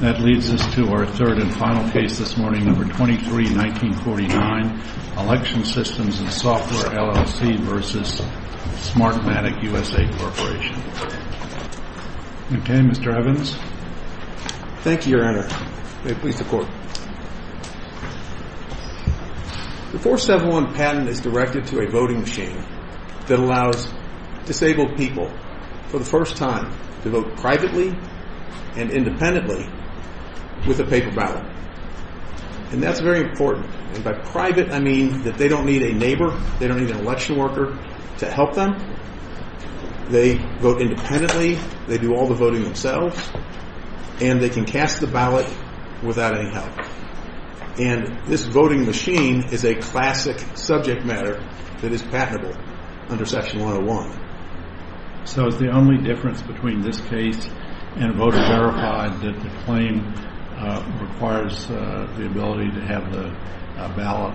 The 471 patent is directed to a voting machine that allows disabled people for the first time to vote privately and independently with a paper ballot, and that's very important. And by private I mean that they don't need a neighbor, they don't need an election worker to help them. They vote independently, they do all the voting themselves, and they can cast the ballot without any help. And this voting machine is a classic subject matter that is patentable under Section 101. So is the only difference between this case and a voter verified that the claim requires the ability to have the ballot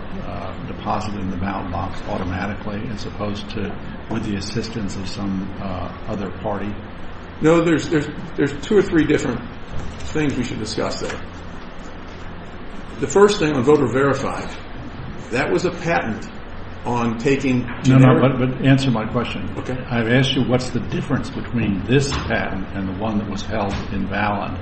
deposited in the ballot box automatically as opposed to with the assistance of some other party? No, there's two or three different things we should discuss there. The first thing on voter verified, that was a patent on taking... Answer my question. I've asked you what's the difference between this patent and the one that was held invalid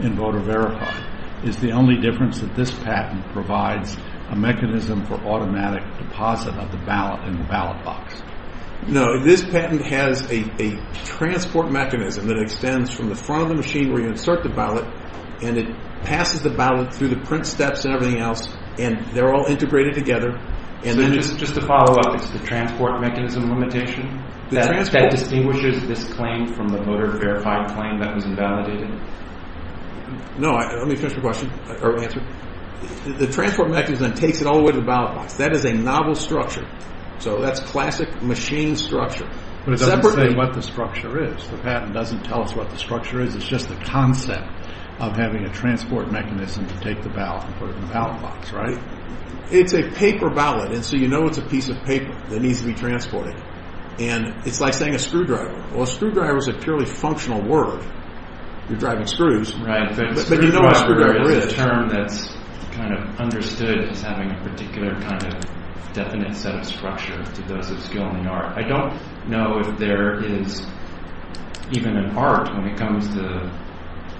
in voter verified. Is the only difference that this patent provides a mechanism for automatic deposit of the ballot in the ballot box? No, this patent has a transport mechanism that extends from the front of the machine where you insert the ballot, and it passes the ballot through the print steps and everything else, and they're all integrated together. So just to follow up, it's the transport mechanism limitation that distinguishes this claim from the voter verified claim that was invalidated? No, let me finish my question, or answer. The transport mechanism takes it all the way to the ballot box. That is a novel structure. So that's classic machine structure. But it doesn't say what the structure is. The patent doesn't tell us what the structure is. It's just the concept of having a transport mechanism to take the ballot and put it in the ballot box, right? It's a paper ballot, and so you know it's a piece of paper that needs to be transported. And it's like saying a screwdriver. Well, a screwdriver is a purely functional word. You're driving screws. Right, but a screwdriver is a term that's kind of understood as having a particular kind of definite set of structure to those of skill in the art. I don't know if there is even an art when it comes to,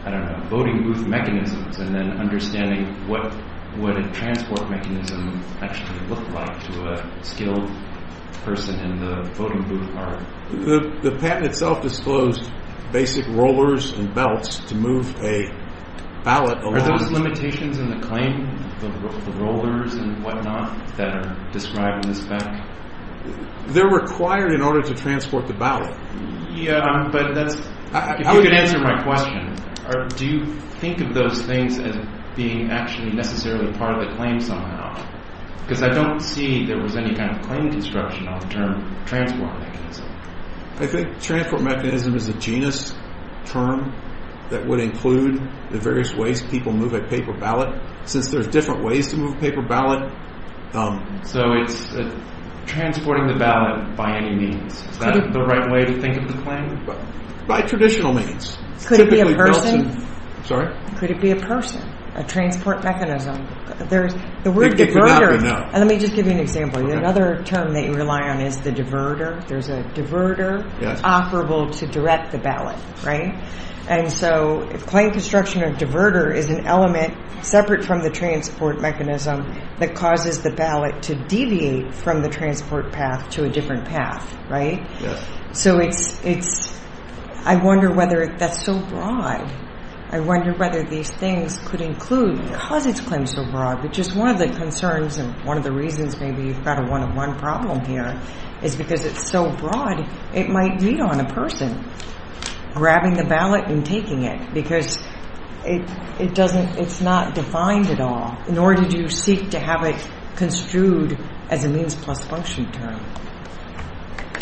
I don't know, voting booth mechanisms, and then understanding what would a transport mechanism actually look like to a skilled person in the voting booth art. The patent itself disclosed basic rollers and belts to move a ballot along. Are those limitations in the claim, the rollers and whatnot, that are described in the spec? They're required in order to transport the ballot. Yeah, but that's, if you could answer my question, do you think of those things as being actually necessarily part of the claim somehow? Because I don't see there was any kind of claim construction on the term transport mechanism. I think transport mechanism is a genus term that would include the various ways people move a paper ballot, since there's different ways to move a paper ballot. So it's transporting the ballot by any means. Is that the right way to think of the claim? By traditional means. Could it be a person? Sorry? Could it be a person, a transport mechanism? It would not be, no. Let me just give you an example. Another term that you rely on is the diverter. There's a diverter operable to direct the ballot, right? And so claim construction of diverter is an element separate from the transport mechanism that causes the ballot to deviate from the transport path to a different path, right? So it's, I wonder whether that's so broad. I wonder whether these things could include, cause its claim so broad, which is one of the concerns and one of the reasons maybe you've got a one-on-one problem here, is because it's so broad, it might lead on a person. Grabbing the ballot and taking it, because it doesn't, it's not defined at all. In order to seek to have it construed as a means plus function term.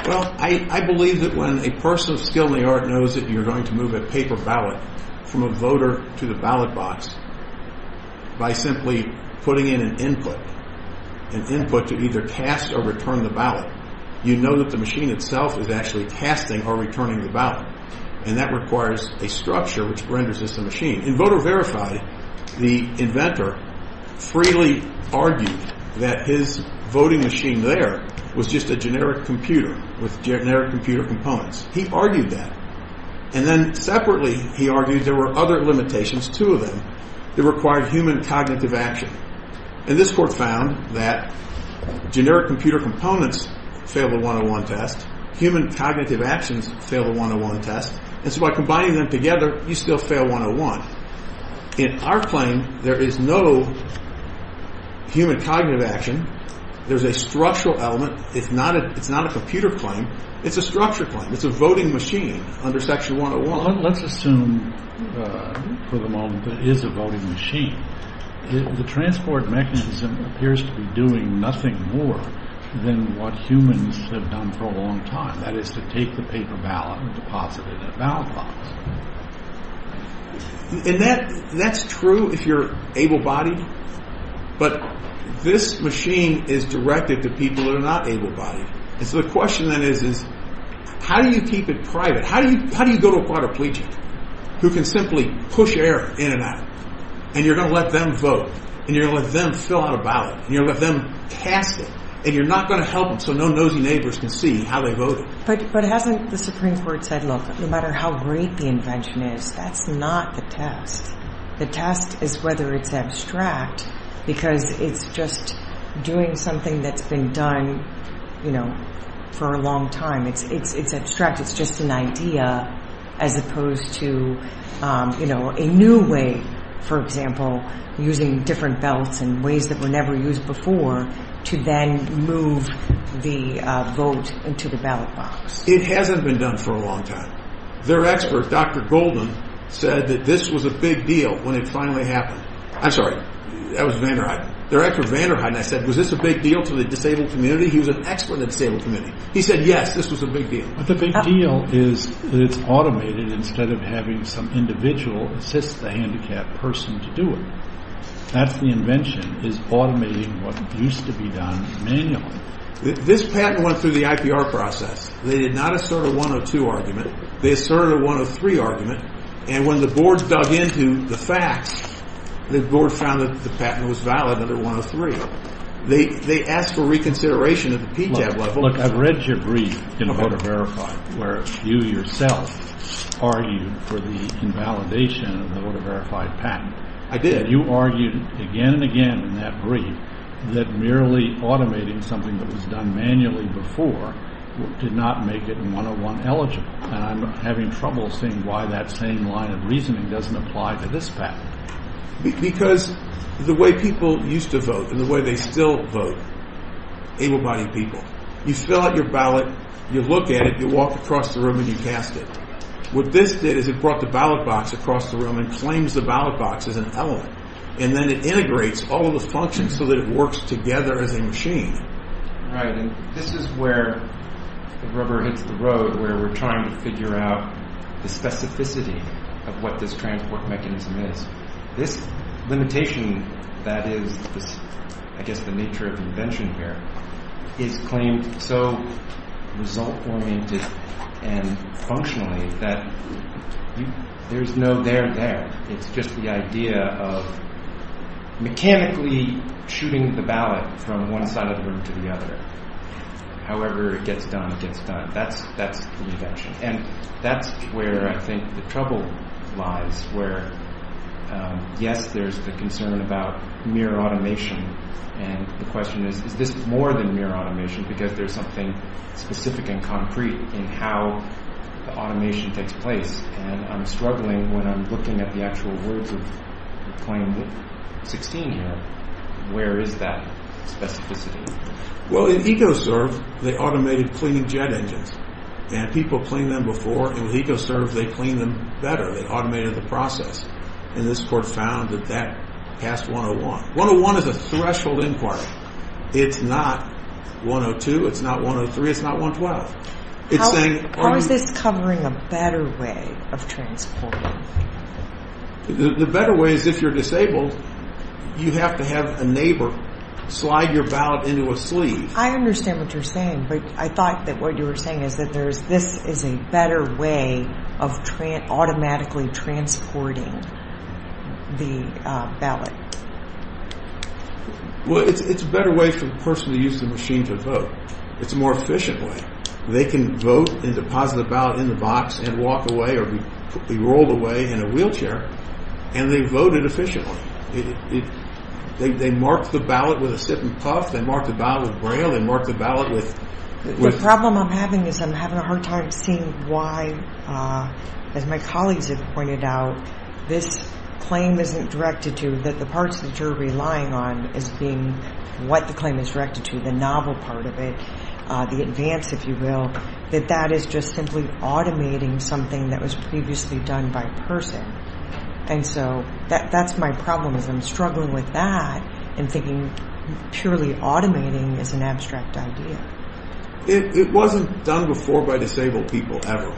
Well, I believe that when a person of skill in the art knows that you're going to move a paper ballot from a voter to the ballot box, by simply putting in an input, an input to either cast or return the ballot, you know that the machine itself is actually casting or returning the ballot. And that requires a structure which renders this a machine. In Voter Verified, the inventor freely argued that his voting machine there was just a generic computer with generic computer components. He argued that. And then separately, he argued there were other limitations, two of them, that required human cognitive action. And this court found that generic computer components fail the one-on-one test. Human cognitive actions fail the one-on-one test. And so by combining them together, you still fail one-on-one. In our claim, there is no human cognitive action. There's a structural element. It's not a computer claim. It's a structure claim. It's a voting machine under Section 101. Well, let's assume for the moment that it is a voting machine. The transport mechanism appears to be doing nothing more than what humans have done for a long time. That is to take the paper ballot and deposit it in a ballot box. And that's true if you're able-bodied. But this machine is directed to people who are not able-bodied. And so the question then is, is how do you keep it private? How do you go to a quadriplegic who can simply push air in and out, and you're going to let them vote, and you're going to let them fill out a ballot, and you're going to let them cast it, and you're not going to help them so no nosy neighbors can see how they voted? But hasn't the Supreme Court said, look, no matter how great the invention is, that's not the test. The test is whether it's abstract because it's just doing something that's been done, you know, for a long time. It's abstract. It's just an idea as opposed to, you know, a new way, for example, using different ballots in ways that were never used before to then move the vote into the ballot box. It hasn't been done for a long time. Their expert, Dr. Golden, said that this was a big deal when it finally happened. I'm sorry. That was Van der Heide. Their expert, Van der Heide, and I said, was this a big deal to the disabled community? He was an expert in the disabled community. He said, yes, this was a big deal. But the big deal is that it's automated instead of having some individual assist the handicapped person to do it. That's the invention, is automating what used to be done manually. This patent went through the IPR process. They did not assert a 102 argument. They asserted a 103 argument, and when the board dug into the facts, the board found that the patent was valid under 103. They asked for reconsideration at the PJAB level. Look, I've read your brief in Voter Verified where you yourself argued for the invalidation of the Voter Verified patent. I did. And you argued again and again in that brief that merely automating something that was done manually before did not make it 101 eligible. And I'm having trouble seeing why that same line of reasoning doesn't apply to this patent. Because the way people used to vote and the way they still vote, able-bodied people, you fill out your ballot, you look at it, you walk across the room and you cast it. What this did is it brought the ballot box across the room and claims the ballot box as an element, and then it integrates all of the functions so that it works together as a machine. Right, and this is where the rubber hits the road, where we're trying to figure out the specificity of what this transport mechanism is. This limitation that is, I guess, the nature of invention here is claimed so result-oriented and functionally that there's no there there. It's just the idea of mechanically shooting the ballot from one side of the room to the other. However it gets done, it gets done. That's the invention. And that's where I think the trouble lies, where, yes, there's the concern about mere automation. And the question is, is this more than mere automation? Because there's something specific and concrete in how the automation takes place. And I'm struggling when I'm looking at the actual words of claim 16 here. Where is that specificity? Well, in EcoServe, they automated cleaning jet engines. And people cleaned them before. In EcoServe, they cleaned them better. They automated the process. And this court found that that passed 101. 101 is a threshold inquiry. It's not 102, it's not 103, it's not 112. How is this covering a better way of transporting? The better way is if you're disabled, you have to have a neighbor slide your ballot into a sleeve. I understand what you're saying. But I thought that what you were saying is that this is a better way of automatically transporting the ballot. Well, it's a better way for the person to use the machine to vote. It's a more efficient way. They can vote and deposit the ballot in the box and walk away or be rolled away in a wheelchair. And they vote it efficiently. They mark the ballot with a sip and puff. They mark the ballot with Braille. They mark the ballot with ‑‑ The problem I'm having is I'm having a hard time seeing why, as my colleagues have pointed out, this claim isn't directed to the parts that you're relying on as being what the claim is directed to, the novel part of it, the advance, if you will, that that is just simply automating something that was previously done by person. And so that's my problem is I'm struggling with that and thinking purely automating is an abstract idea. It wasn't done before by disabled people ever.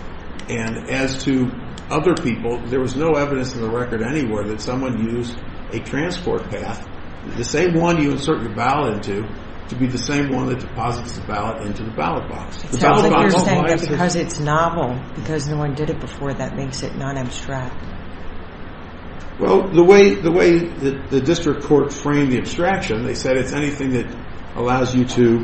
And as to other people, there was no evidence in the record anywhere that someone used a transport path, the same one you insert your ballot into, to be the same one that deposits the ballot into the ballot box. So you're saying that because it's novel, because no one did it before, that makes it non‑abstract? Well, the way the district court framed the abstraction, they said it's anything that allows you to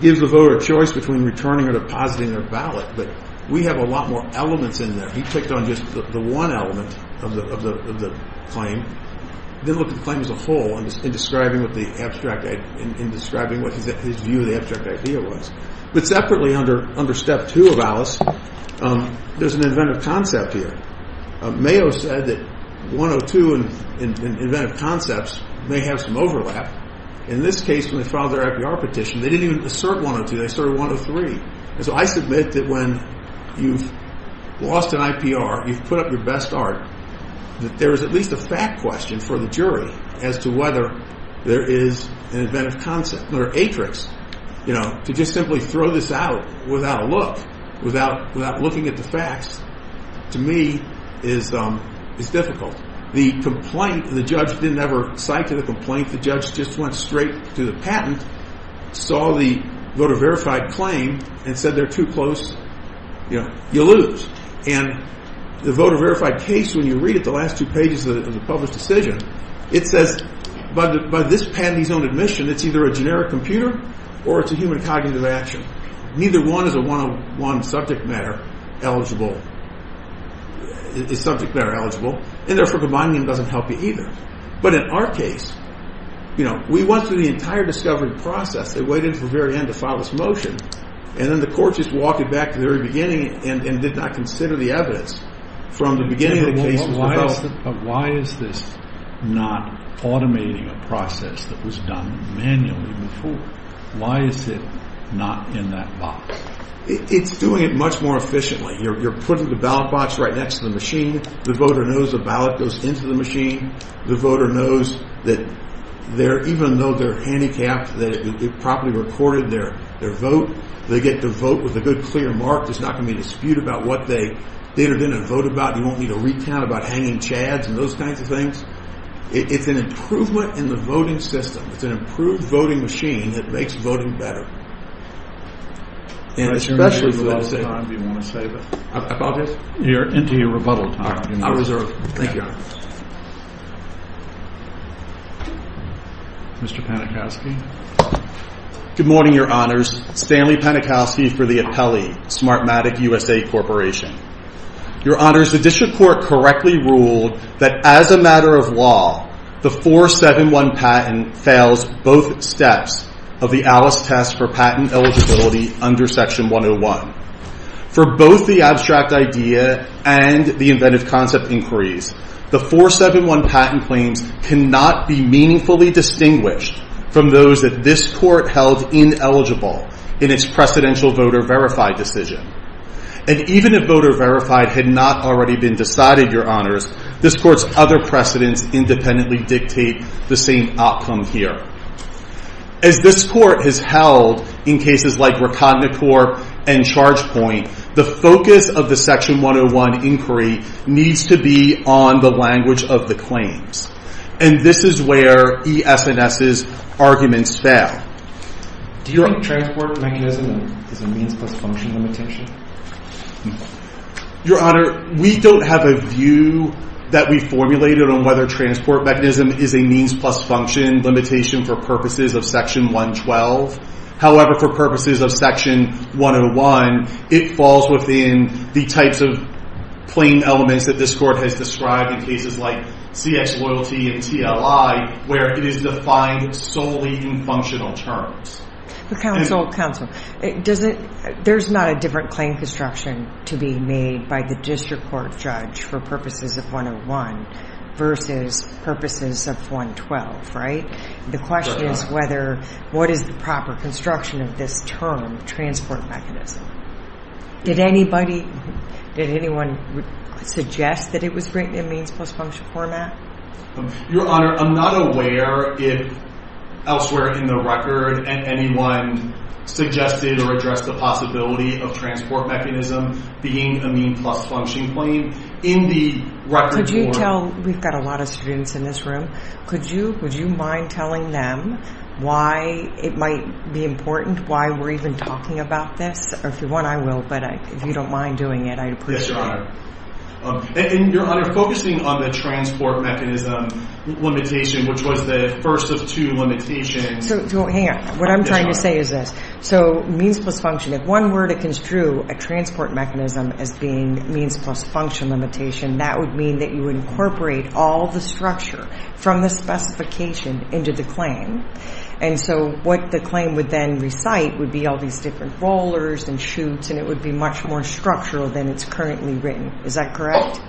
give the voter a choice between returning or depositing their ballot. But we have a lot more elements in there. He picked on just the one element of the claim, didn't look at the claim as a whole in describing what his view of the abstract idea was. But separately under step two of Alice, there's an inventive concept here. Mayo said that 102 and inventive concepts may have some overlap. In this case, when they filed their FDR petition, they didn't even assert 102, they asserted 103. And so I submit that when you've lost an IPR, you've put up your best art, that there is at least a fact question for the jury as to whether there is an inventive concept or atrix. To just simply throw this out without a look, without looking at the facts, to me is difficult. The complaint, the judge didn't ever cite to the complaint, the judge just went straight to the patent, saw the voter verified claim and said they're too close, you lose. And the voter verified case, when you read it, the last two pages of the published decision, it says by this patent he's on admission, it's either a generic computer or it's a human cognitive action. Neither one is a 101 subject matter eligible, is subject matter eligible, and therefore combining them doesn't help you either. But in our case, we went through the entire discovery process. They waited until the very end to file this motion, and then the court just walked it back to the very beginning and did not consider the evidence from the beginning of the case. But why is this not automating a process that was done manually before? Why is it not in that box? It's doing it much more efficiently. You're putting the ballot box right next to the machine. The voter knows the ballot goes into the machine. The voter knows that even though they're handicapped, that it properly recorded their vote, they get to vote with a good, clear mark. There's not going to be a dispute about what they did or didn't vote about. You won't need a recount about hanging chads and those kinds of things. It's an improvement in the voting system. It's an improved voting machine that makes voting better. And especially with all the time you want to save it. I apologize. You're into your rebuttal time. I reserve. Thank you, Your Honor. Mr. Panikowsky. Good morning, Your Honors. Stanley Panikowsky for the appellee, Smartmatic USA Corporation. Your Honors, the district court correctly ruled that as a matter of law, the 471 patent fails both steps of the Alice test for patent eligibility under Section 101. For both the abstract idea and the inventive concept inquiries, the 471 patent claims cannot be meaningfully distinguished from those that this court held ineligible in its precedential voter verified decision. And even if voter verified had not already been decided, Your Honors, this court's other precedents independently dictate the same outcome here. As this court has held in cases like Rakatnakor and Chargepoint, the focus of the Section 101 inquiry needs to be on the language of the claims. And this is where ES&S's arguments fail. Do you think transport mechanism is a means plus function limitation? Your Honor, we don't have a view that we formulated on whether transport mechanism is a means plus function limitation for purposes of Section 112. However, for purposes of Section 101, it falls within the types of plain elements that this court has described in cases like CX Loyalty and TLI, where it is defined solely in functional terms. Counsel, there's not a different claim construction to be made by the district court judge for purposes of 101 versus purposes of 112, right? The question is what is the proper construction of this term, transport mechanism? Did anyone suggest that it was written in means plus function format? Your Honor, I'm not aware if elsewhere in the record anyone suggested or addressed the possibility of transport mechanism being a means plus function claim. We've got a lot of students in this room. Would you mind telling them why it might be important, why we're even talking about this? If you want, I will, but if you don't mind doing it, I'd appreciate it. Yes, Your Honor. And, Your Honor, focusing on the transport mechanism limitation, which was the first of two limitations. Hang on. What I'm trying to say is this. So means plus function, if one were to construe a transport mechanism as being means plus function limitation, that would mean that you incorporate all the structure from the specification into the claim. And so what the claim would then recite would be all these different rollers and shoots, and it would be much more structural than it's currently written. Is that correct?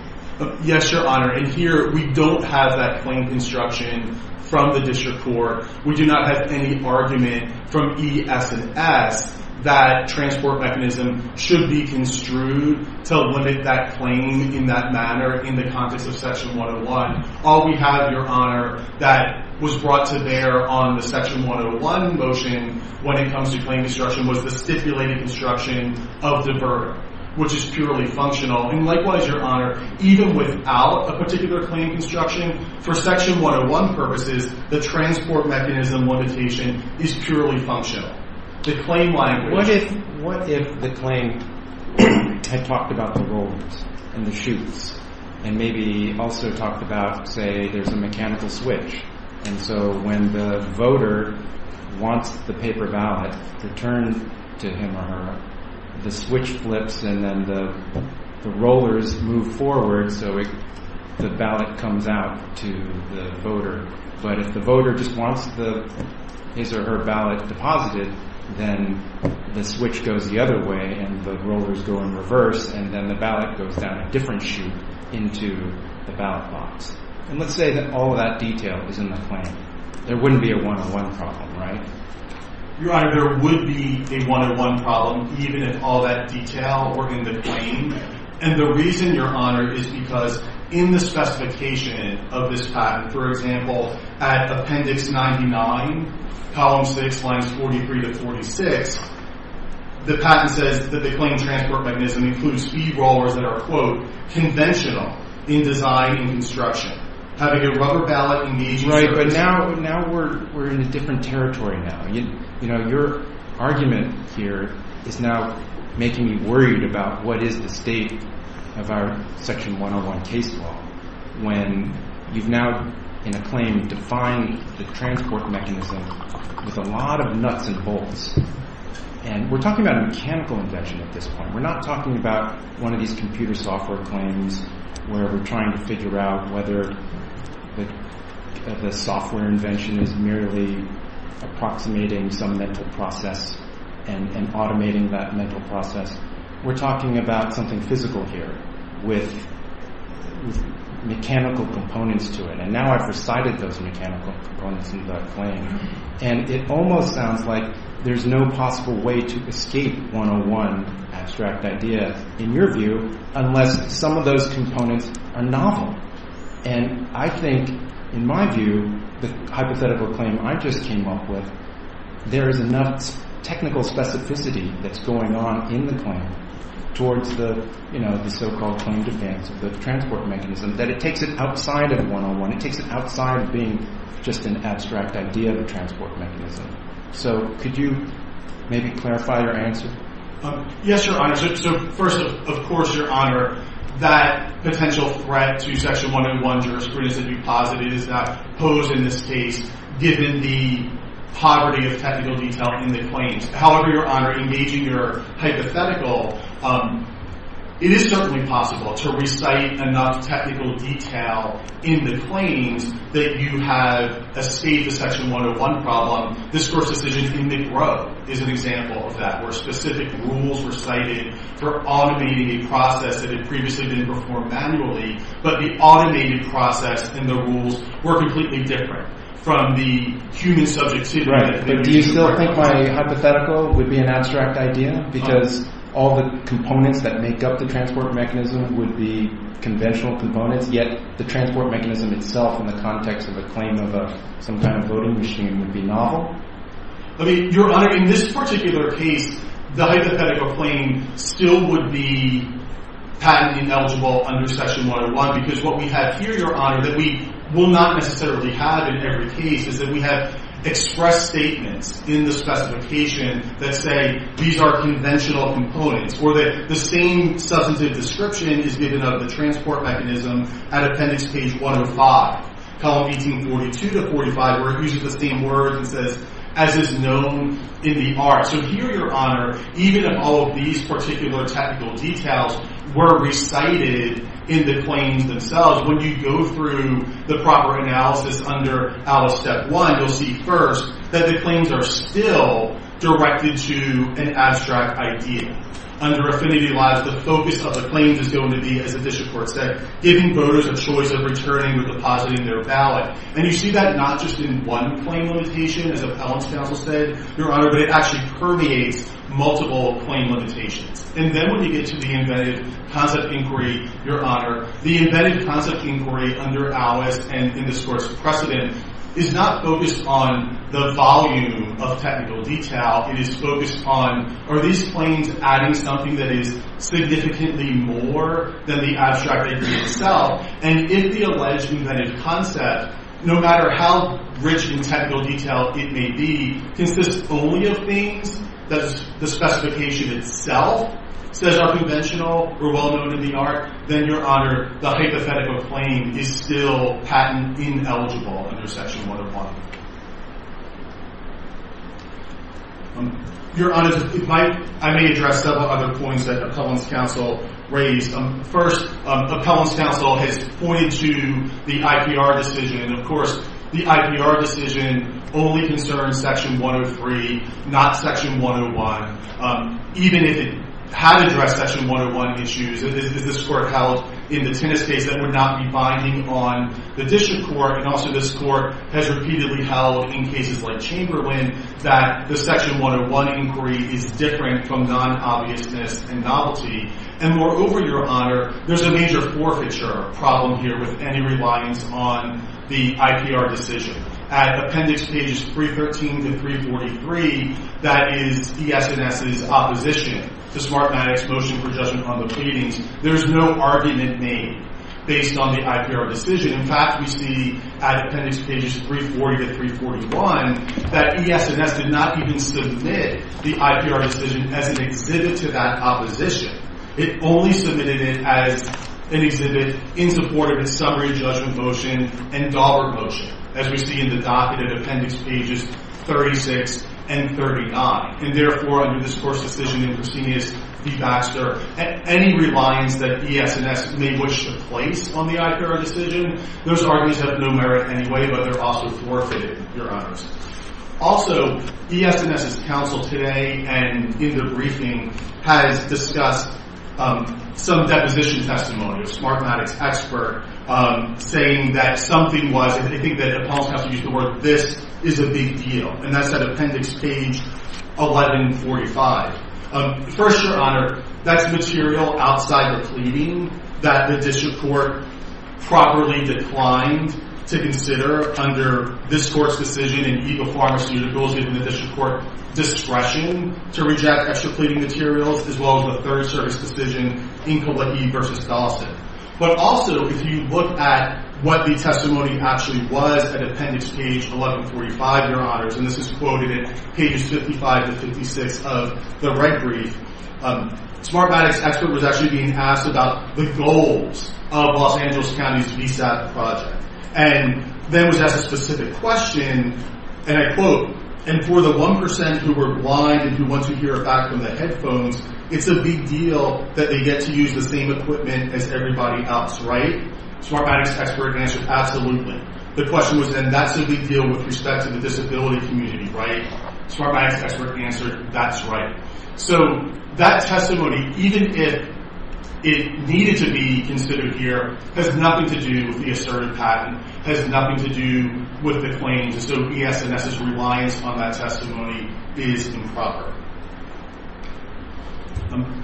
Yes, Your Honor. And here we don't have that claim construction from the district court. We do not have any argument from E, S, and S that transport mechanism should be construed to limit that claim in that manner in the context of Section 101. All we have, Your Honor, that was brought to bear on the Section 101 motion when it comes to claim construction was the stipulated construction of the verb, which is purely functional. And likewise, Your Honor, even without a particular claim construction, for Section 101 purposes, the transport mechanism limitation is purely functional. What if the claim had talked about the rollers and the shoots and maybe also talked about, say, there's a mechanical switch, and so when the voter wants the paper ballot, the turn to him or her, the switch flips, and then the rollers move forward so the ballot comes out to the voter. But if the voter just wants his or her ballot deposited, then the switch goes the other way and the rollers go in reverse, and then the ballot goes down a different shoot into the ballot box. And let's say that all of that detail is in the claim. There wouldn't be a one-on-one problem, right? Your Honor, there would be a one-on-one problem, even if all that detail were in the claim. And the reason, Your Honor, is because in the specification of this patent, for example, at Appendix 99, Columns 6, Lines 43 to 46, the patent says that the claim transport mechanism includes speed rollers that are, quote, conventional in design and construction. Having a rubber ballot in the agency... Right, but now we're in a different territory now. You know, your argument here is now making me worried about what is the state of our Section 101 case law when you've now, in a claim, defined the transport mechanism with a lot of nuts and bolts. And we're talking about a mechanical invention at this point. We're not talking about one of these computer software claims where we're trying to figure out whether the software invention is merely approximating some mental process and automating that mental process. We're talking about something physical here with mechanical components to it. And now I've recited those mechanical components in the claim. And it almost sounds like there's no possible way to escape one-on-one abstract idea, in your view, unless some of those components are novel. And I think, in my view, the hypothetical claim I just came up with, there is enough technical specificity that's going on in the claim towards the so-called claim defense of the transport mechanism that it takes it outside of one-on-one. It takes it outside of being just an abstract idea of a transport mechanism. So could you maybe clarify your answer? Yes, Your Honor. So first, of course, Your Honor, that potential threat to Section 101 jurisprudence, if you posit it, is not posed in this case, given the poverty of technical detail in the claims. However, Your Honor, engaging your hypothetical, it is certainly possible to recite enough technical detail in the claims that you have escaped the Section 101 problem. This Court's decision in McGrow is an example of that, where specific rules were cited for automating a process that had previously been performed manually. But the automated process and the rules were completely different from the human subjects here. But do you still think my hypothetical would be an abstract idea? Because all the components that make up the transport mechanism would be conventional components, yet the transport mechanism itself in the context of a claim of some kind of voting machine would be novel? I mean, Your Honor, in this particular case, the hypothetical claim still would be patently ineligible under Section 101, because what we have here, Your Honor, that we will not necessarily have in every case, is that we have expressed statements in the specification that say these are conventional components, or that the same substantive description is given of the transport mechanism at Appendix Page 105, column 1842 to 45, where it uses the same words and says, as is known in the art. So here, Your Honor, even if all of these particular technical details were recited in the claims themselves, when you go through the proper analysis under Alice Step 1, you'll see first that the claims are still directed to an abstract idea. Under Affinity Labs, the focus of the claims is going to be, as the district court said, giving voters a choice of returning or depositing their ballot. And you see that not just in one claim limitation, as Appellant's counsel said, Your Honor, but it actually permeates multiple claim limitations. And then when you get to the Embedded Concept Inquiry, Your Honor, the Embedded Concept Inquiry under Alice and in the source precedent is not focused on the volume of technical detail. It is focused on, are these claims adding something that is significantly more than the abstract idea itself? And if the alleged embedded concept, no matter how rich in technical detail it may be, consists only of things that the specification itself says are conventional or well known in the art, then, Your Honor, the hypothetical claim is still patent ineligible under Section 101. Your Honor, I may address several other points that Appellant's counsel raised. First, Appellant's counsel has pointed to the IPR decision. Of course, the IPR decision only concerns Section 103, not Section 101. Even if it had addressed Section 101 issues, as this Court held in the Tinnis case, that would not be binding on the District Court. And also this Court has repeatedly held in cases like Chamberlain that the Section 101 inquiry is different from non-obviousness and novelty. And moreover, Your Honor, there's a major forfeiture problem here with any reliance on the IPR decision. At Appendix Pages 313 to 343, that is ES&S's opposition to Smartmatic's motion for judgment on the paintings, there's no argument made based on the IPR decision. In fact, we see at Appendix Pages 340 to 341 that ES&S did not even submit the IPR decision as an exhibit to that opposition. It only submitted it as an exhibit in support of its summary judgment motion and Daubert motion, as we see in the docket at Appendix Pages 36 and 39. And therefore, under this Court's decision in Cristinius v. Baxter, any reliance that ES&S may wish to place on the IPR decision, those arguments have no merit anyway, but they're also forfeited, Your Honors. Also, ES&S's counsel today and in the briefing has discussed some deposition testimonials. Smartmatic's expert saying that something was, and I think that appellants have to use the word, this is a big deal. And that's at Appendix Page 1145. First, Your Honor, that's material outside the pleading that the district court properly declined to consider under this Court's decision in Ego Pharmacy under the rules given the district court discretion to reject extra pleading materials, as well as the third service decision in Kauai v. Dawson. But also, if you look at what the testimony actually was at Appendix Page 1145, Your Honors, and this is quoted in Pages 55 and 56 of the red brief, Smartmatic's expert was actually being asked about the goals of Los Angeles County's VSAP project. And then was asked a specific question, and I quote, and for the 1% who were blind and who want to hear back from the headphones, it's a big deal that they get to use the same equipment as everybody else, right? Smartmatic's expert answered, absolutely. The question was, and that's a big deal with respect to the disability community, right? Smartmatic's expert answered, that's right. So that testimony, even if it needed to be considered here, has nothing to do with the assertive pattern, has nothing to do with the claims. And so ES&S's reliance on that testimony is improper.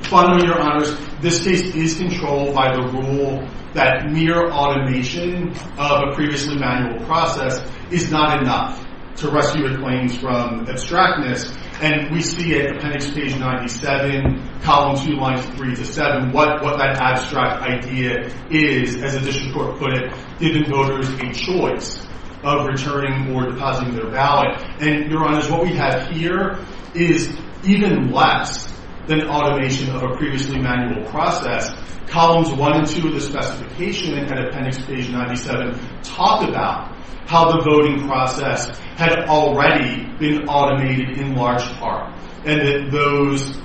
Finally, Your Honors, this case is controlled by the rule that mere automation of a previously manual process is not enough to rescue a claim from abstractness. And we see at Appendix Page 97, Column 2, Lines 3 to 7, what that abstract idea is. As a district court put it, giving voters a choice of returning or depositing their ballot. And Your Honors, what we have here is even less than automation of a previously manual process. Columns 1 and 2 of the specification at Appendix Page 97 talk about how the voting process had already been automated in large part, and that those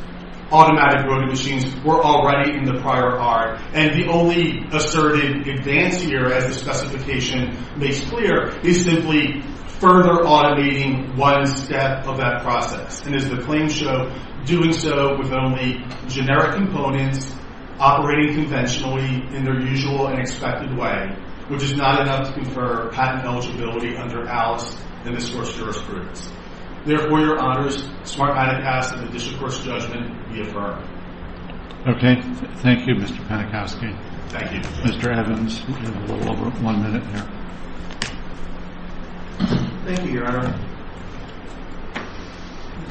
automatic voting machines were already in the prior card. And the only assertive advance here, as the specification makes clear, is simply further automating one step of that process. And as the claims show, doing so with only generic components, operating conventionally in their usual and expected way, which is not enough to confer patent eligibility under ALICE and this court's jurisprudence. Therefore, Your Honors, Smart Ida Pass and the district court's judgment be affirmed. Okay. Thank you, Mr. Panikowski. Thank you. Mr. Evans. We have a little over one minute here. Thank you, Your Honor.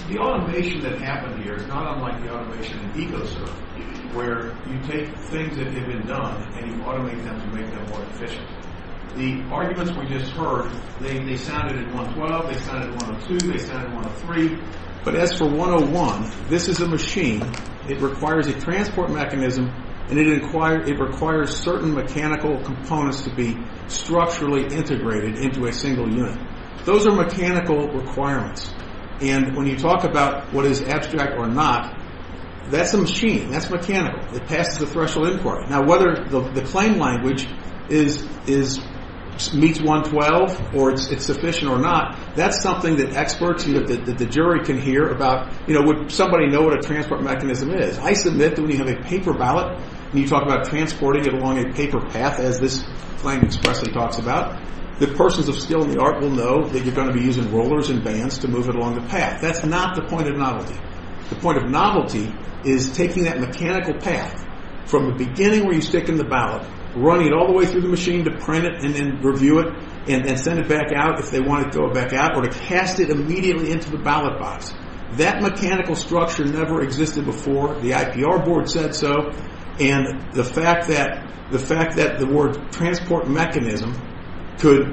The automation that happened here is not unlike the automation in EcoServe, where you take things that have been done and you automate them to make them more efficient. The arguments we just heard, they sounded at 112, they sounded at 102, they sounded at 103. But as for 101, this is a machine. It requires a transport mechanism, and it requires certain mechanical components to be structurally integrated into a single unit. Those are mechanical requirements. And when you talk about what is abstract or not, that's a machine, that's mechanical. It passes the threshold inquiry. Now, whether the claim language meets 112 or it's sufficient or not, that's something that experts, that the jury can hear about. Would somebody know what a transport mechanism is? I submit that when you have a paper ballot and you talk about transporting it along a paper path, as this claim expressly talks about, the persons of skill and the art will know that you're going to be using rollers and bands to move it along the path. That's not the point of novelty. The point of novelty is taking that mechanical path from the beginning where you stick in the ballot, running it all the way through the machine to print it and then review it, and then send it back out if they want to throw it back out, or to cast it immediately into the ballot box. That mechanical structure never existed before. The IPR board said so. And the fact that the word transport mechanism could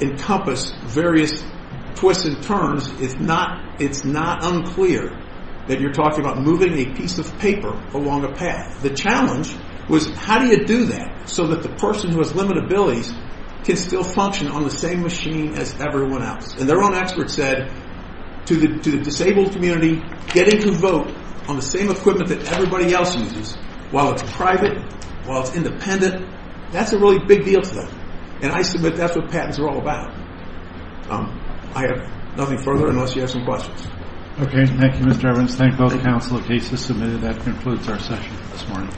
encompass various twists and turns, it's not unclear that you're talking about moving a piece of paper along a path. The challenge was how do you do that so that the person who has limited abilities can still function on the same machine as everyone else. And their own expert said, to the disabled community, getting to vote on the same equipment that everybody else uses, while it's private, while it's independent, that's a really big deal to them. And I submit that's what patents are all about. I have nothing further unless you have some questions. Okay, thank you, Mr. Evans. Thank both counsel. The case is submitted. That concludes our session this morning.